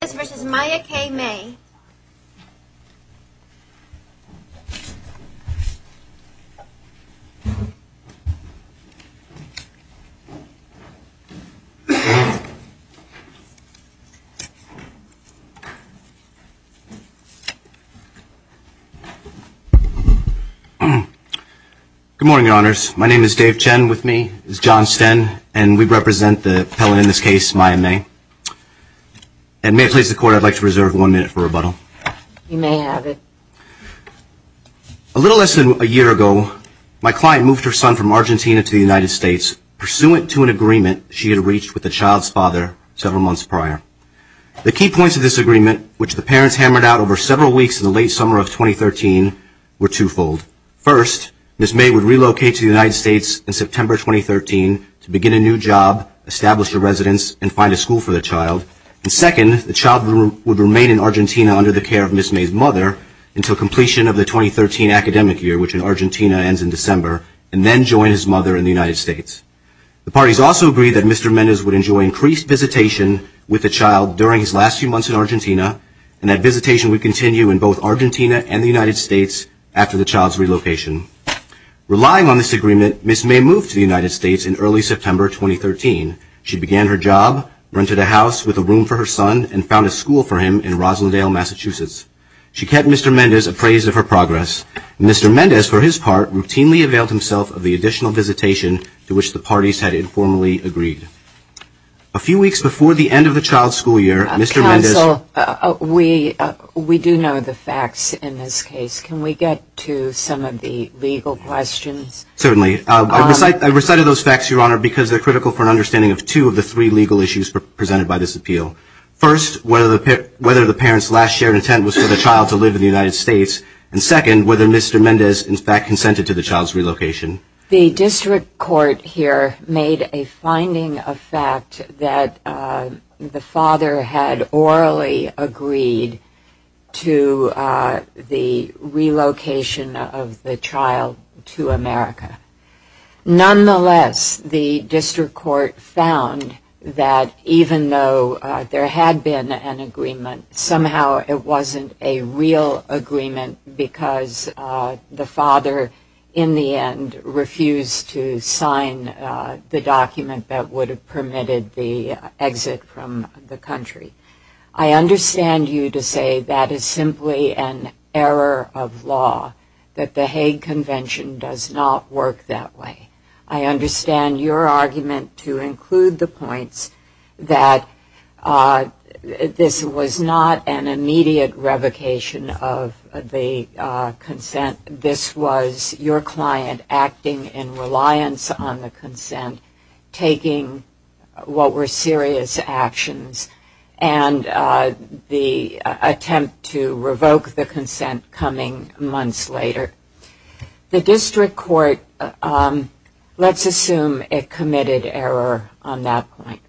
Good morning, Your Honors. My name is Dave Chen. With me is John Sten, and we represent the appellant in this case, Maya May. And may I please the court, I'd like to reserve one minute for rebuttal. You may have it. A little less than a year ago, my client moved her son from Argentina to the United States pursuant to an agreement she had reached with the child's father several months prior. The key points of this agreement, which the parents hammered out over several weeks in the late summer of 2013, were twofold. First, Ms. May would relocate to the United States in September 2013 to begin a new job, establish a residence, and find a school for the child. And second, the child would remain in Argentina under the care of Ms. May's mother until completion of the 2013 academic year, which in Argentina ends in December, and then join his mother in the United States. The parties also agreed that Mr. Mendez would enjoy increased visitation with the child during his last few months in Argentina, and that visitation would continue in both Argentina and the United States after the child's relocation. Relying on this agreement, Ms. May moved to the United States in early September 2013. She began her job, rented a house with a room for her son, and found a school for him in Roslindale, Massachusetts. She kept Mr. Mendez appraised of her progress. Mr. Mendez, for his part, routinely availed himself of the additional visitation to which the parties had informally agreed. A few weeks before the end of the child's school year, Mr. Mendez Counsel, we do know the facts in this case. Can we get to some of the legal questions? Certainly. I recited those facts, Your Honor, because they're critical for an understanding of two of the three legal issues presented by this appeal. First, whether the parent's last shared intent was for the child to live in the United States, and second, whether Mr. Mendez, in fact, consented to the child's relocation. The district court here made a finding of fact that the father had orally agreed to the relocation of the child to America. Nonetheless, the district court found that even though there had been an agreement, somehow it wasn't a real agreement because the father, in the end, refused to sign the document that would have permitted the exit from the country. I understand you to say that is simply an error of law, that the Hague Convention does not work that way. I understand your argument to include the points that this was not an initial agreement, but an immediate revocation of the consent. This was your client acting in reliance on the consent, taking what were serious actions, and the attempt to revoke the consent coming months later. The district court, let's assume it committed error on that point.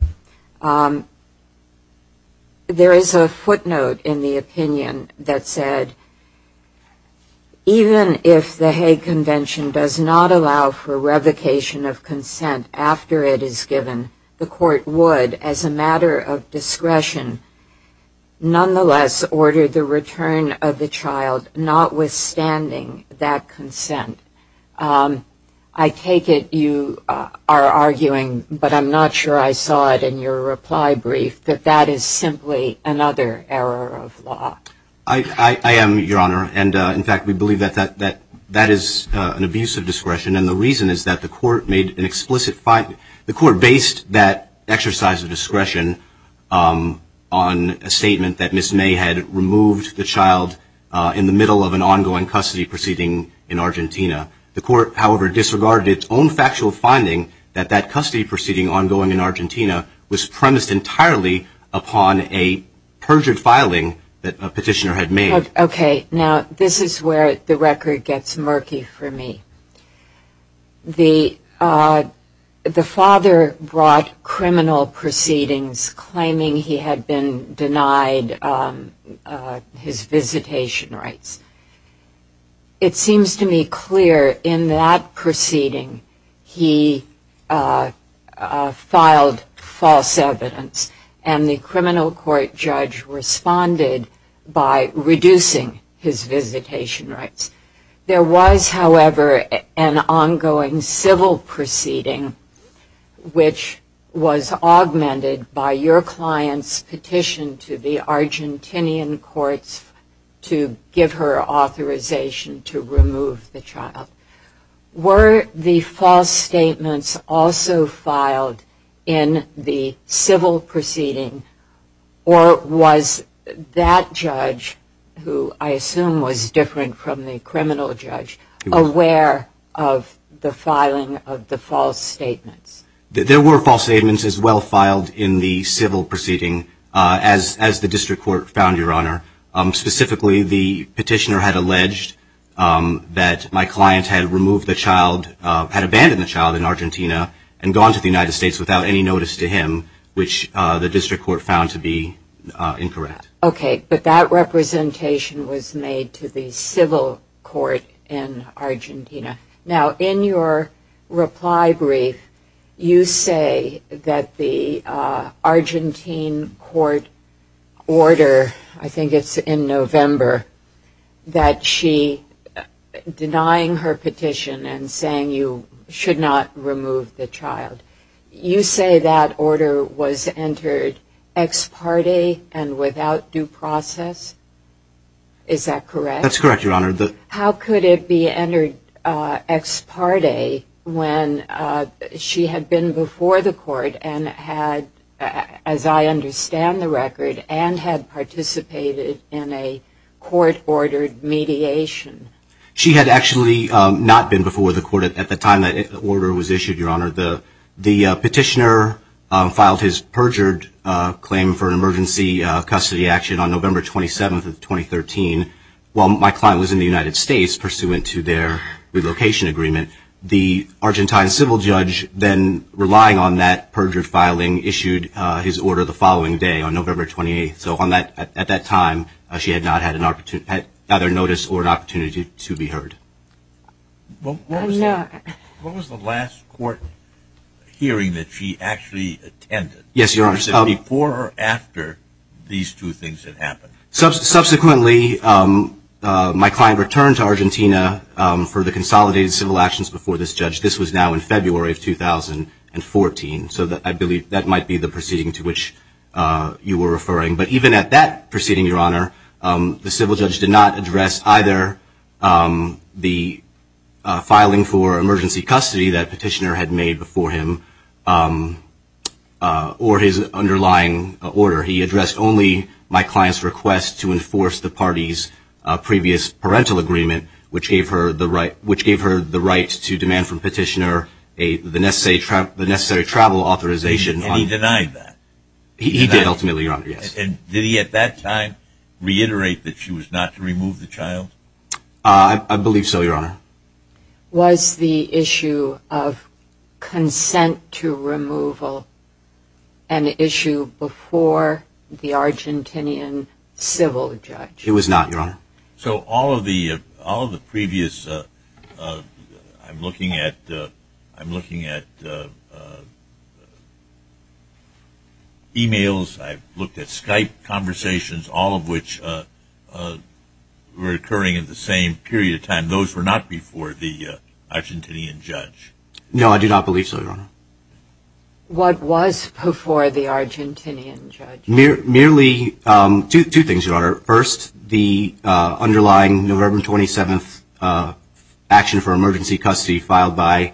The district court made an opinion that said, even if the Hague Convention does not allow for revocation of consent after it is given, the court would, as a matter of discretion, nonetheless order the return of the child, notwithstanding that consent. I take it you are arguing, but I'm not sure I saw it in your reply brief, that that is simply another error of law. I am, Your Honor, and in fact, we believe that that is an abuse of discretion, and the reason is that the court based that exercise of discretion on a statement that Ms. May had removed the child in the middle of an ongoing custody proceeding in Argentina. The court, however, disregarded its own factual finding that that custody proceeding ongoing in Argentina was premised entirely upon a perjured filing that a petitioner had made. Okay. Now, this is where the record gets murky for me. The father brought criminal proceedings claiming he had been denied custody of the child, and his visitation rights. It seems to me clear in that proceeding he filed false evidence, and the criminal court judge responded by reducing his visitation rights. There was, however, an ongoing civil proceeding which was augmented by your client's petition to the Argentinian courts to give her authorization to remove the child. Were the false statements also filed in the civil proceeding, or was that judge, who I assume was different from the criminal judge, aware of the filing of the false statements? There were false statements as well filed in the civil proceeding, as the district court found, Your Honor. Specifically, the petitioner had alleged that my client had removed the child, had abandoned the child in Argentina and gone to the United States without any notice to him, which the district court found to be incorrect. Okay, but that representation was made to the civil court in Argentina. Now, in your reply brief, you say that the Argentine court order, I think it's in November, that she denying her petition and saying you should not remove the child, you say that order was entered ex parte and without due process? Is that correct? That's correct, Your Honor. How could it be entered ex parte when she had been before the court and had, as I understand the record, and had participated in a court-ordered mediation? She had actually not been before the court at the time that order was issued, Your Honor. The petitioner filed his perjured claim for an emergency custody action on November 27, 2013. While my client was in the United States pursuant to their relocation agreement, the Argentine civil judge then, relying on that perjured filing, issued his order the following day on November 28. So at that time, she had not had either notice or an opportunity to be heard. What was the last court hearing that she actually attended? Yes, Your Honor. Before or after these two things had happened? Subsequently, my client returned to Argentina for the consolidated civil actions before this judge. This was now in February of 2014. So I believe that might be the proceeding to which you were referring. But even at that proceeding, Your Honor, the civil judge did not address either the filing for emergency custody that the petitioner had made before him or his underlying order. He addressed only my client's request to enforce the party's previous parental agreement, which gave her the right to demand from the petitioner the necessary travel authorization. And he denied that? He did, ultimately, Your Honor. And did he, at that time, reiterate that she was not to remove the child? I believe so, Your Honor. Was the issue of consent to removal an issue before the Argentinian civil judge? It was not, Your Honor. So all of the previous... I'm looking at... emails, I've looked at Skype conversations, all of which were occurring at the same period of time. Those were not before the Argentinian judge? No, I do not believe so, Your Honor. What was before the Argentinian judge? Merely two things, Your Honor. First, the underlying November 27th action for emergency custody filed by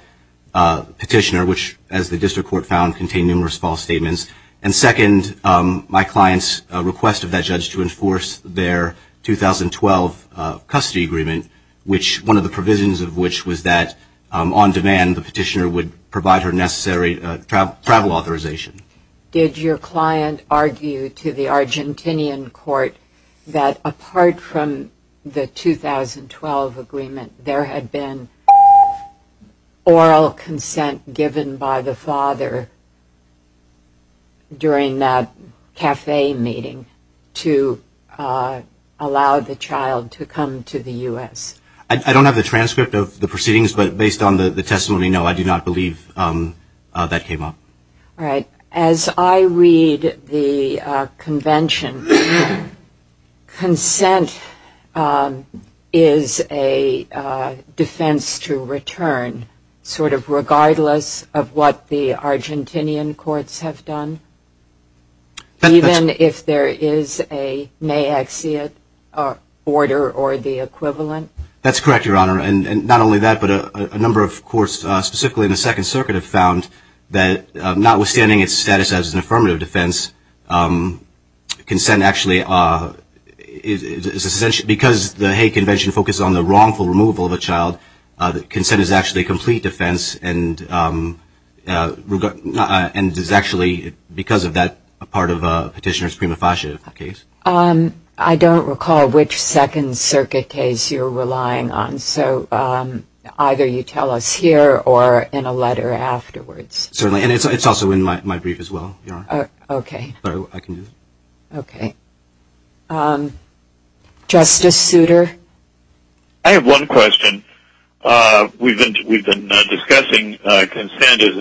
the petitioner, which, as the district court found, contained numerous false statements. And second, my client's request of that judge to enforce their 2012 custody agreement, one of the provisions of which was that, on demand, the petitioner would provide her necessary travel authorization. Did your client argue to the Argentinian court that, apart from the 2012 agreement, there had been oral consent given by the father during that cafe meeting to allow the child to come to the U.S.? I don't have the transcript of the proceedings, but based on the testimony, no, I do not believe that came up. All right. As I read the convention, consent is a defense to return, sort of regardless of what the Argentinian courts have done, even if there is a maxia order or the equivalent? That's correct, Your Honor. And not only that, but a number of courts, specifically in the Second Circuit, have found that, notwithstanding its status as an affirmative defense, because the Hague Convention focused on the wrongful removal of a child, consent is actually a complete defense, and is actually, because of that, a part of a petitioner's prima facie case. I don't recall which Second Circuit case you're relying on, so either you tell us here or in a letter afterwards. Certainly, and it's also in my brief as well, Your Honor. Okay. Justice Souter? I have one question. We've been discussing consent as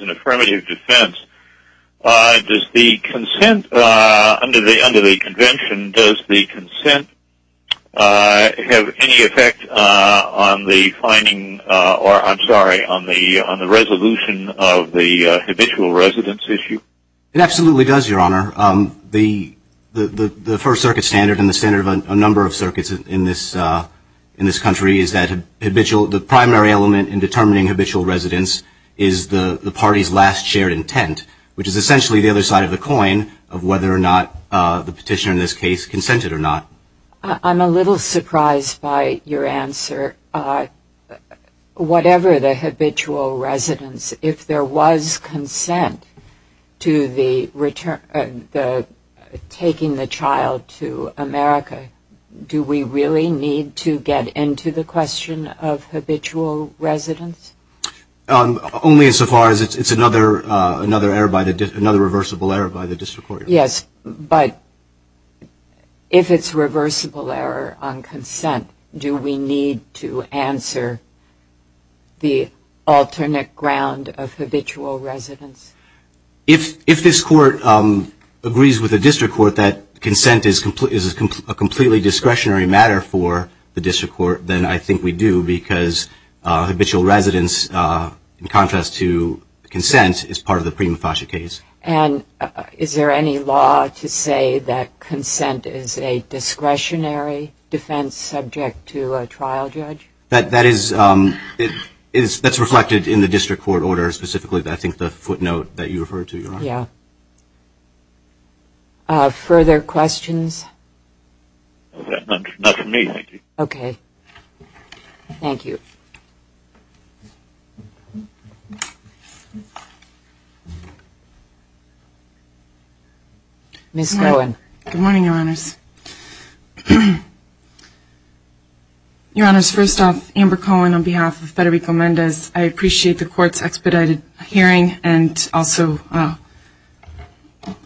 an affirmative defense. Does the consent under the convention, does the consent have any effect on the finding, or I'm sorry, on the resolution of the habitual residence issue? It absolutely does, Your Honor. The First Circuit standard and the standard of a number of circuits in this country is that the primary element in determining habitual residence is the party's last shared intent, which is essentially the other side of the coin of whether or not the petitioner in this case consented or not. I'm a little surprised by your answer. Whatever the habitual residence, if there was consent to taking the child to America, do we really need to get into the question of habitual residence? Only so far as it's another reversible error by the district court. Yes, but if it's reversible error on consent, do we need to answer the alternate ground of habitual residence? If this Court agrees with the district court that consent is a completely discretionary matter for the district court, then I think we do because habitual residence, in contrast to consent, is part of the prima facie case. Is there any law to say that consent is a discretionary defense subject to a trial judge? That's reflected in the district court order, specifically I think the footnote that you referred to, Your Honor. Yeah. Further questions? Not from me, thank you. Okay. Thank you. Ms. Cohen. Good morning, Your Honors. Your Honors, first off, Amber Cohen on behalf of Federico Mendez. I appreciate the Court's expedited hearing and also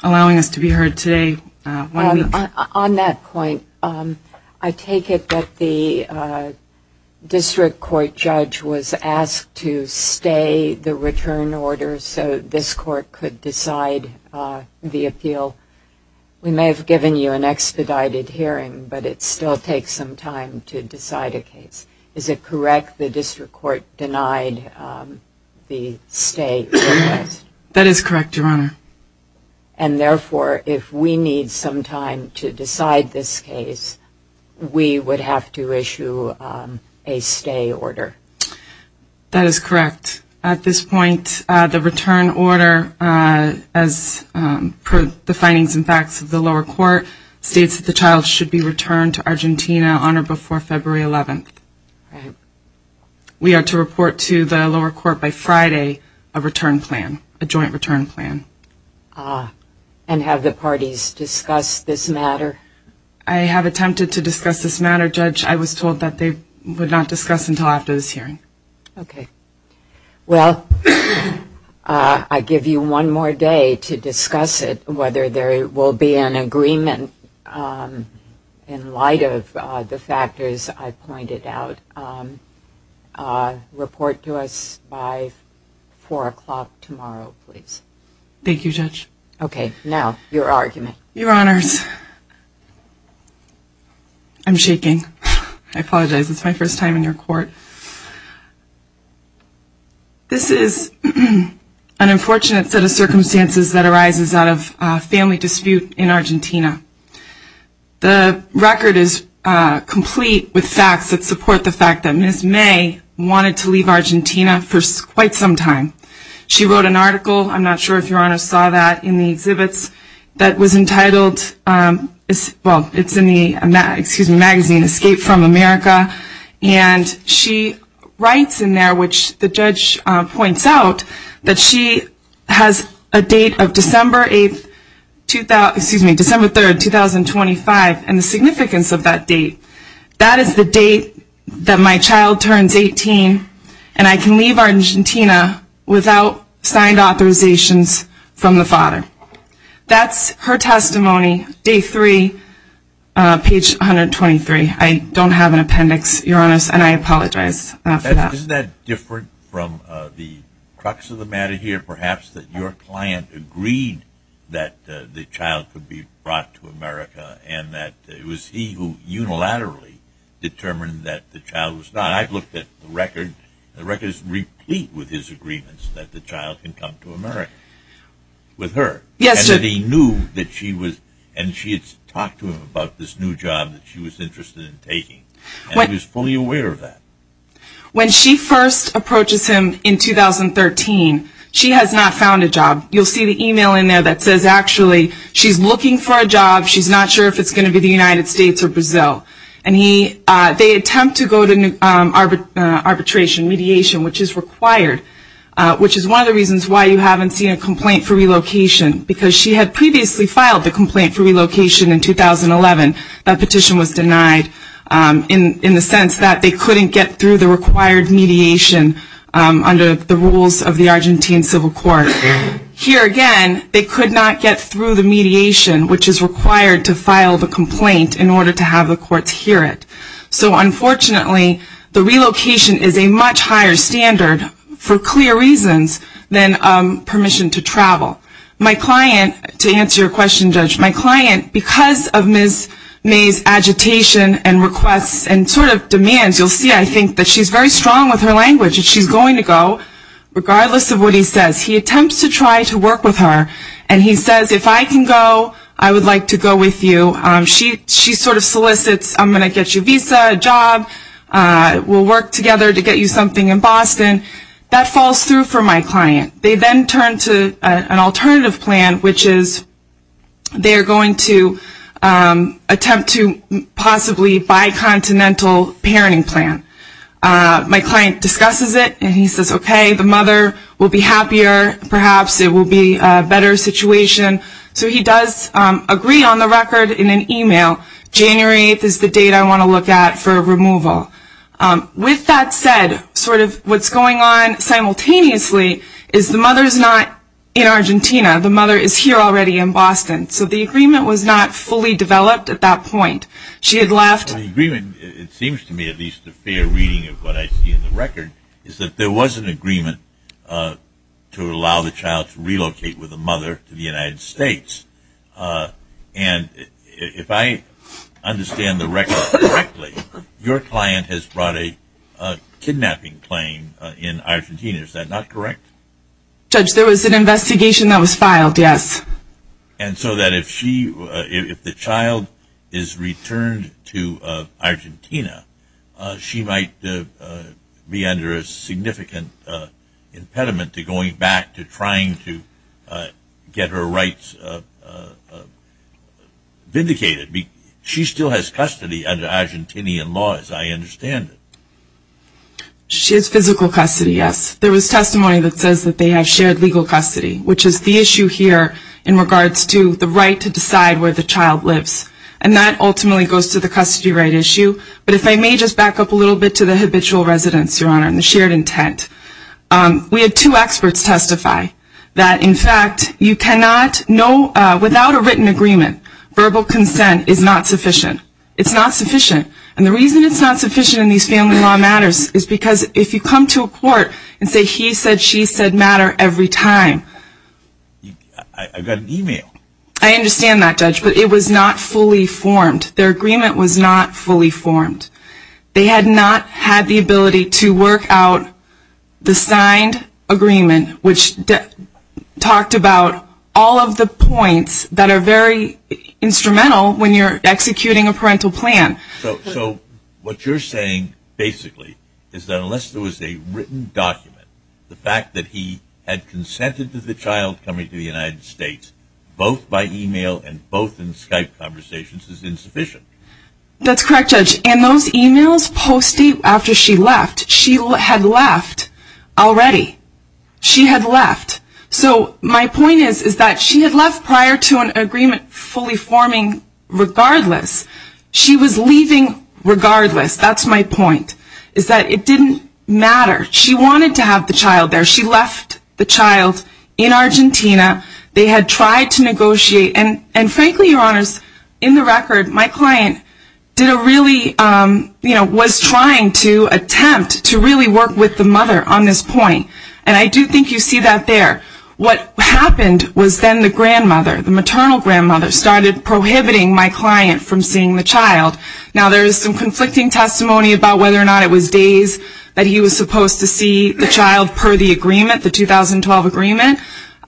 allowing us to be heard today. On that point, I take it that the district court judge was asked to stay the return order so this Court could decide the appeal. We may have given you an expedited hearing, but it still takes some time to decide a case. Is it correct the district court denied the stay request? That is correct, Your Honor. And therefore, if we need some time to decide this case, we would have to issue a stay order. That is correct. At this point, the return order, as per the findings and facts of the lower court, states that the child should be returned to Argentina on or before February 11th. We are to report to the lower court by Friday a return plan, a joint return plan. And have the parties discussed this matter? I have attempted to discuss this matter, Judge. I was told that they would not discuss until after this hearing. Okay. Well, I give you one more day to discuss it, whether there will be an agreement in light of the factors I pointed out. Report to us by 4 o'clock tomorrow, please. Thank you, Judge. Okay. Now, your argument. Your Honors, I'm shaking. I apologize. It's my first time in your court. This is an unfortunate set of circumstances that arises out of a family dispute in Argentina. The record is complete with facts that support the fact that Ms. May wanted to leave Argentina for quite some time. She wrote an article, I'm not sure if your Honor saw that, in the exhibits that was entitled, well, it's in the magazine Escape from America. And she writes in there, which the judge points out, that she has a date of December 8th, excuse me, December 3rd, 2025, and the significance of that date. That is the date that my child turns 18, and I can leave Argentina without signed authorizations from the father. That's her testimony, day three, page 123. I don't have an appendix, your Honors, and I apologize for that. Isn't that different from the crux of the matter here, perhaps, that your client agreed that the child could be brought to America, and that it was he who unilaterally determined that the child was not. I've looked at the record, the record is replete with his agreements that the child can come to America with her. And that he knew that she was, and she had talked to him about this new job that she was interested in taking. And he was fully aware of that. When she first approaches him in 2013, she has not found a job. You'll see the email in there that says, actually, she's looking for a job. She's not sure if it's going to be the United States or Brazil. And they attempt to go to arbitration, mediation, which is required. Which is one of the reasons why you haven't seen a complaint for relocation. Because she had previously filed the complaint for relocation in 2011. That petition was denied in the sense that they couldn't get through the required mediation under the rules of the Argentine Civil Court. Here again, they could not get through the mediation, which is required to file the complaint in order to have the courts hear it. So unfortunately, the relocation is a much higher standard for clear reasons than permission to travel. My client, to answer your question, Judge, my client, because of Ms. May's agitation and requests and sort of demands, you'll see, I think, that she's very strong with her language. She's going to go regardless of what he says. He attempts to try to work with her. And he says, if I can go, I would like to go with you. She sort of solicits, I'm going to get you a visa, a job. We'll work together to get you something in Boston. That falls through for my client. They then turn to an alternative plan, which is they're going to attempt to possibly buy continental parenting plan. My client discusses it. And he says, okay, the mother will be happier. Perhaps it will be a better situation. So he does agree on the record in an email, January 8th is the date I want to look at for removal. With that said, sort of what's going on simultaneously is the mother is not in Argentina. The mother is here already in Boston. So the agreement was not fully developed at that point. She had left. The agreement, it seems to me at least a fair reading of what I see in the record, is that there was an agreement to allow the child to relocate with the mother to the United States. And if I understand the record correctly, your client has brought a kidnapping claim in Argentina. Is that not correct? Judge, there was an investigation that was filed, yes. And so that if she, if the child is returned to Argentina, she might be under a significant impediment to going back to trying to get her rights vindicated. She still has custody under Argentinian law, as I understand it. She has physical custody, yes. There was testimony that says that they have shared legal custody, which is the issue here. In regards to the right to decide where the child lives. And that ultimately goes to the custody right issue. But if I may just back up a little bit to the habitual residence, Your Honor, and the shared intent. We had two experts testify that in fact you cannot, without a written agreement, verbal consent is not sufficient. It's not sufficient. And the reason it's not sufficient in these family law matters is because if you come to a court and say he said, she said matter every time. I got an email. I understand that, Judge, but it was not fully formed. Their agreement was not fully formed. They had not had the ability to work out the signed agreement, which talked about all of the points that are very instrumental when you're executing a parental plan. So what you're saying basically is that unless there was a written document, the fact that he had consented to the child coming to the United States, both by email and both in Skype conversations is insufficient. That's correct, Judge. And those emails posted after she left, she had left already. She had left. So my point is that she had left prior to an agreement fully forming regardless. She was leaving regardless. That's my point, is that it didn't matter. She wanted to have the child there. She left the child in Argentina. They had tried to negotiate. And frankly, Your Honors, in the record my client did a really, you know, was trying to attempt to really work with the mother on this point. And I do think you see that there. What happened was then the grandmother, the maternal grandmother started prohibiting my client from seeing the child. Now, there is some conflicting testimony about whether or not it was days that he was supposed to see the child per the agreement, the 2012 agreement.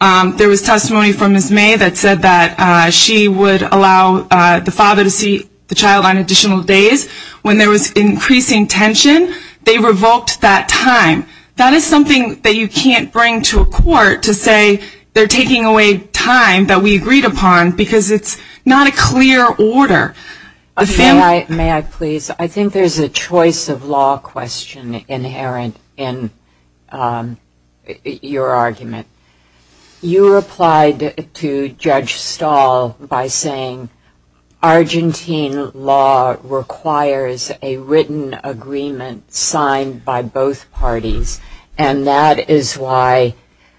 There was testimony from Ms. May that said that she would allow the father to see the child on additional days. When there was increasing tension, they revoked that time. That is something that you can't bring to a court to say they're taking away time that we agreed upon because it's not a clear order. I think there's a choice of law question inherent in your argument. You replied to Judge Stahl by saying Argentine law requires a written agreement signed by both parties. And that is why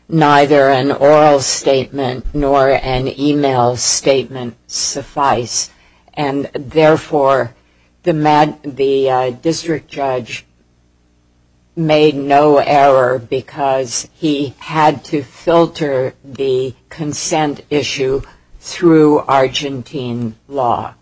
neither an oral statement nor an e-mail statement suffice. And therefore, the district judge made no error because he had to filter the consent issue through Argentine law.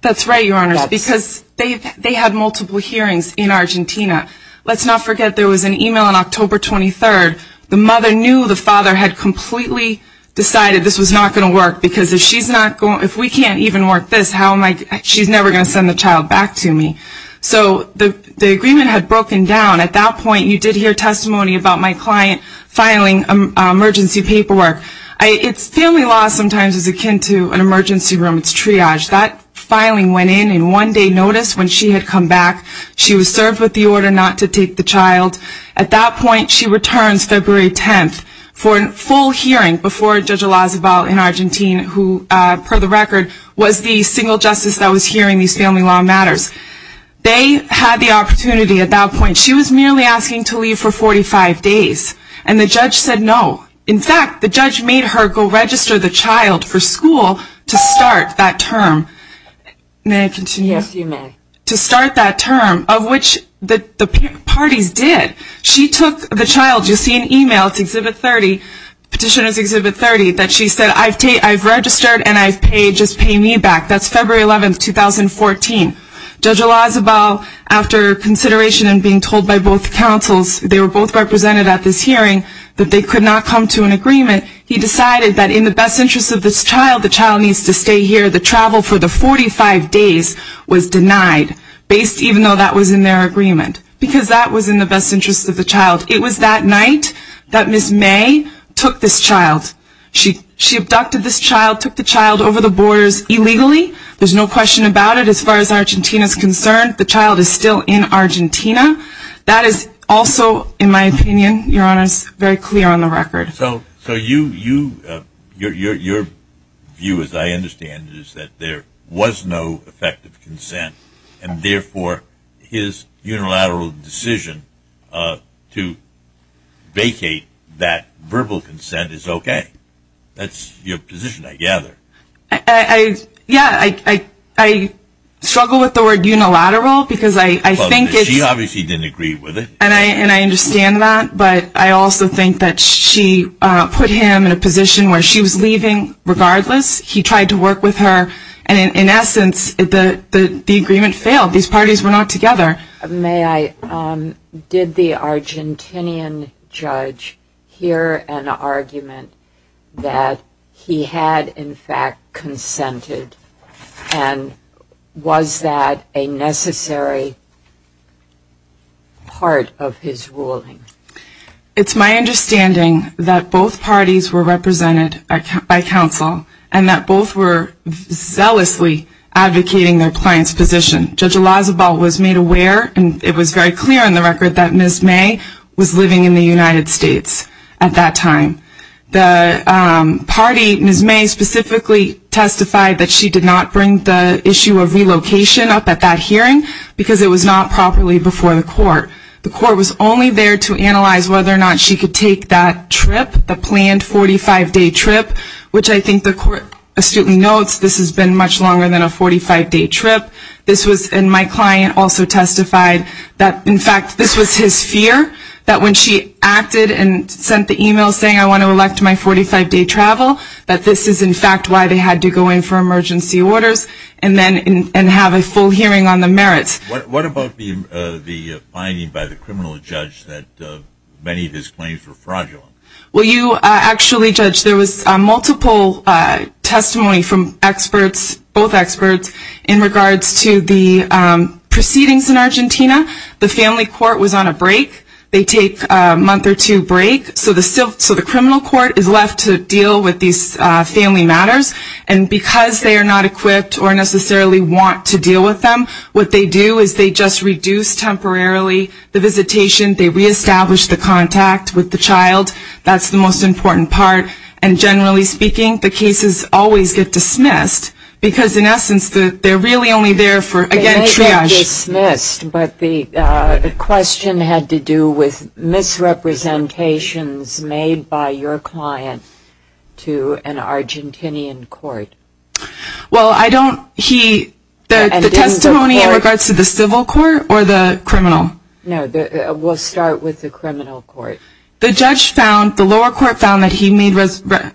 That's right, Your Honors, because they had multiple hearings in Argentina. Let's not forget there was an e-mail on October 23rd. The mother knew the father had completely decided this was not going to work because if we can't even work this, she's never going to send the child back to me. So the agreement had broken down. At that point you did hear testimony about my client filing emergency paperwork. Family law sometimes is akin to an emergency room. It's triage. That filing went in and one day noticed when she had come back she was served with the order not to file an emergency report. She returns February 10th for a full hearing before Judge Elizabeth in Argentina who, per the record, was the single justice that was hearing these family law matters. They had the opportunity at that point. She was merely asking to leave for 45 days. And the judge said no. In fact, the judge made her go register the child for school to start that term. May I continue? Yes, you may. To start that term, of which the parties did. She took the child. You see in email, it's Exhibit 30, Petitioner's Exhibit 30, that she said I've registered and I've paid, just pay me back. That's February 11th, 2014. Judge Elizabeth, after consideration and being told by both counsels, they were both represented at this hearing, that they could not come to an agreement, he decided that in the best interest of this child, the child needs to stay here. The travel for the 45 days was denied. Based even though that was in their agreement. Because that was in the best interest of the child. It was that night that Ms. May took this child. She abducted this child, took the child over the borders illegally. There's no question about it as far as Argentina is concerned. The child is still in Argentina. That is also, in my opinion, Your Honor, is very clear on the record. So you, your view, as I understand it, is that there was no effective consent and therefore his unilateral decision to vacate that verbal consent is okay. That's your position, I gather. Yeah, I struggle with the word unilateral because I think it's She obviously didn't agree with it. And I understand that, but I also think that she put him in a position where she was leaving regardless. He tried to work with her and in essence the agreement failed. These parties were not together. May I, did the Argentinian judge hear an argument that he had in fact consented and was that a necessary part of his ruling? It's my understanding that both parties were represented by counsel and that both were zealously advocating their client's position. Judge Elisabal was made aware and it was very clear on the record that Ms. May was living in the United States at that time. The party, Ms. May, specifically testified that she did not bring the issue of relocation up at that hearing because it was not properly before the court. The court was only there to analyze whether or not she could take that trip, the planned 45-day trip, which I think the court notes this has been much longer than a 45-day trip. This was, and my client also testified that in fact this was his fear that when she acted and sent the email saying I want to elect my 45-day travel that this is in fact why they had to go in for emergency orders and have a full hearing on the merits. What about the finding by the criminal judge that many of his claims were fraudulent? Well, you actually, Judge, there was multiple testimony from experts, both experts, in regards to the proceedings in Argentina. The family court was on a break. They take a month or two break so the criminal court is left to deal with these family matters and because they are not equipped or necessarily want to deal with them what they do is they just reduce temporarily the visitation, they don't let the child, that's the most important part, and generally speaking the cases always get dismissed because in essence they are really only there for, again, triage. They get dismissed but the question had to do with misrepresentations made by your client to an Argentinian court. Well, I don't, he, the testimony in regards to the civil court or the criminal? No, we'll start with the criminal court. The judge found, the lower court found that he made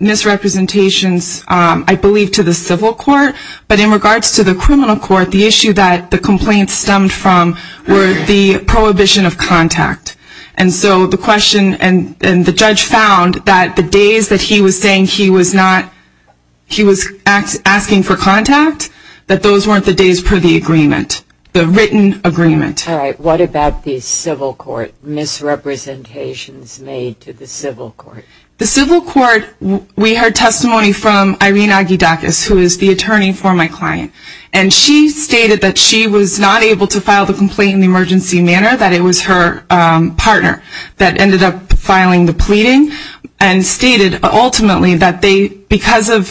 misrepresentations I believe to the civil court but in regards to the criminal court the issue that the complaints stemmed from were the prohibition of contact and so the question and the judge found that the days that he was saying he was not, he was asking for contact, that those weren't the days per the agreement, the civil court, misrepresentations made to the civil court. The civil court, we heard testimony from Irene Aguidacas who is the attorney for my client and she stated that she was not able to file the complaint in the emergency manner, that it was her partner that ended up filing the pleading and stated ultimately that they, because of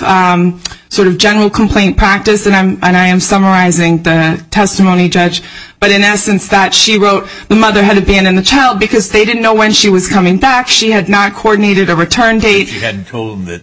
sort of general complaint practice and I am summarizing the testimony judge but in essence that she wrote the mother had abandoned the child because they didn't know when she was coming back, she had not coordinated a return date. She hadn't told them that,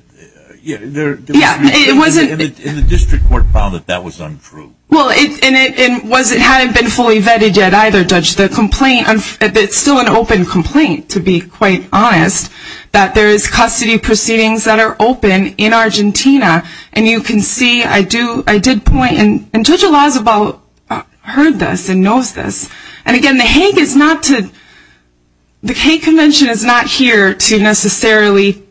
yeah. Yeah, it wasn't. And the district court found that that was untrue. Well, and it wasn't, it hadn't been fully vetted yet either judge, the complaint, it's still an open complaint to be quite honest, that there is custody proceedings that are open in Argentina and you can see, I do, I did point and Judge El Azebal heard this and knows this and again the Hague is not to, the Hague Convention is not here to necessarily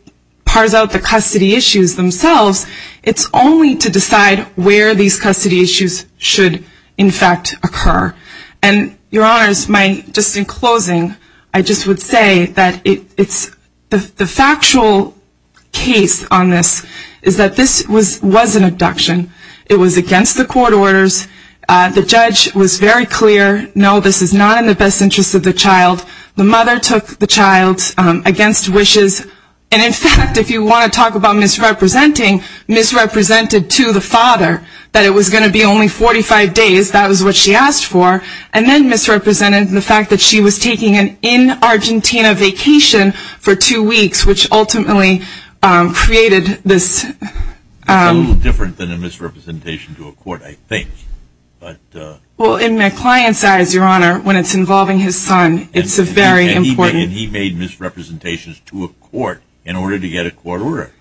parse out the custody issues themselves, it's only to decide where these custody issues should in fact occur and your honors, my, just in closing I just would say that it's, the factual case on this is that this was an abduction it was against the court orders, the judge was very clear, no this is not in the best interest of the child, the mother took the child against wishes and in fact if you want to talk about misrepresenting, misrepresented to the father that it was going to be only 45 days, that was what she asked for and then misrepresented the fact that she was taking an in Argentina vacation for two weeks which ultimately created this it's a little different than a misrepresentation to a court I think well in my client's eyes your honor, when it's involving his son, it's a very important, and he made misrepresentations to a court in order to get a court order,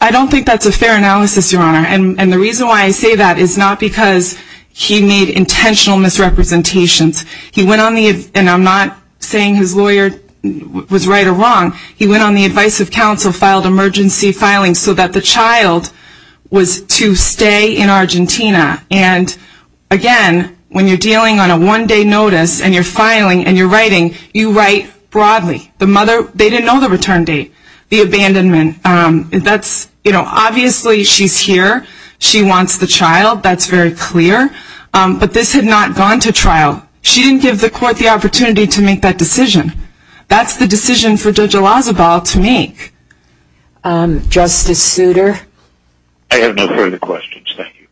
I don't think that's a fair analysis your honor and the reason why I say that is not because he made intentional misrepresentations, he went on the, and I'm not saying his lawyer was right or wrong, he went on the advice of filing so that the child was to stay in Argentina and again when you're dealing on a one day notice and you're filing and you're writing, you write broadly, the mother they didn't know the return date, the abandonment, that's obviously she's here, she wants the child, that's very clear but this had not gone to trial, she didn't give the court the opportunity to make that decision, that's the decision for Judge Elazabal to make Justice Souter? I have no further questions, thank you.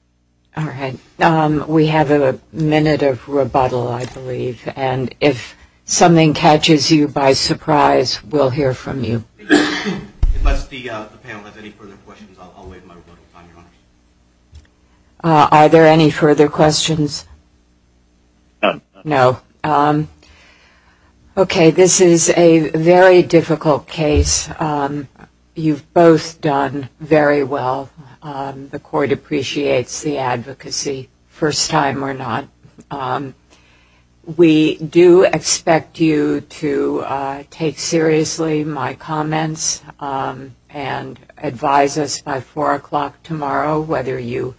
Alright, we have a minute of rebuttal I believe and if something catches you by surprise, we'll hear from you. Unless the panel has any further questions, I'll waive my rebuttal. Are there any further questions? No. Okay, this is a very difficult case. You've both done very well. The court appreciates the advocacy first time or not. We do expect you to take seriously my comments and advise us by 4 o'clock tomorrow whether you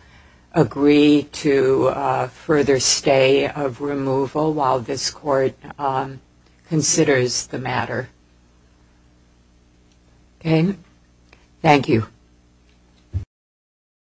agree to further stay of removal while this court considers the matter. Okay, thank you.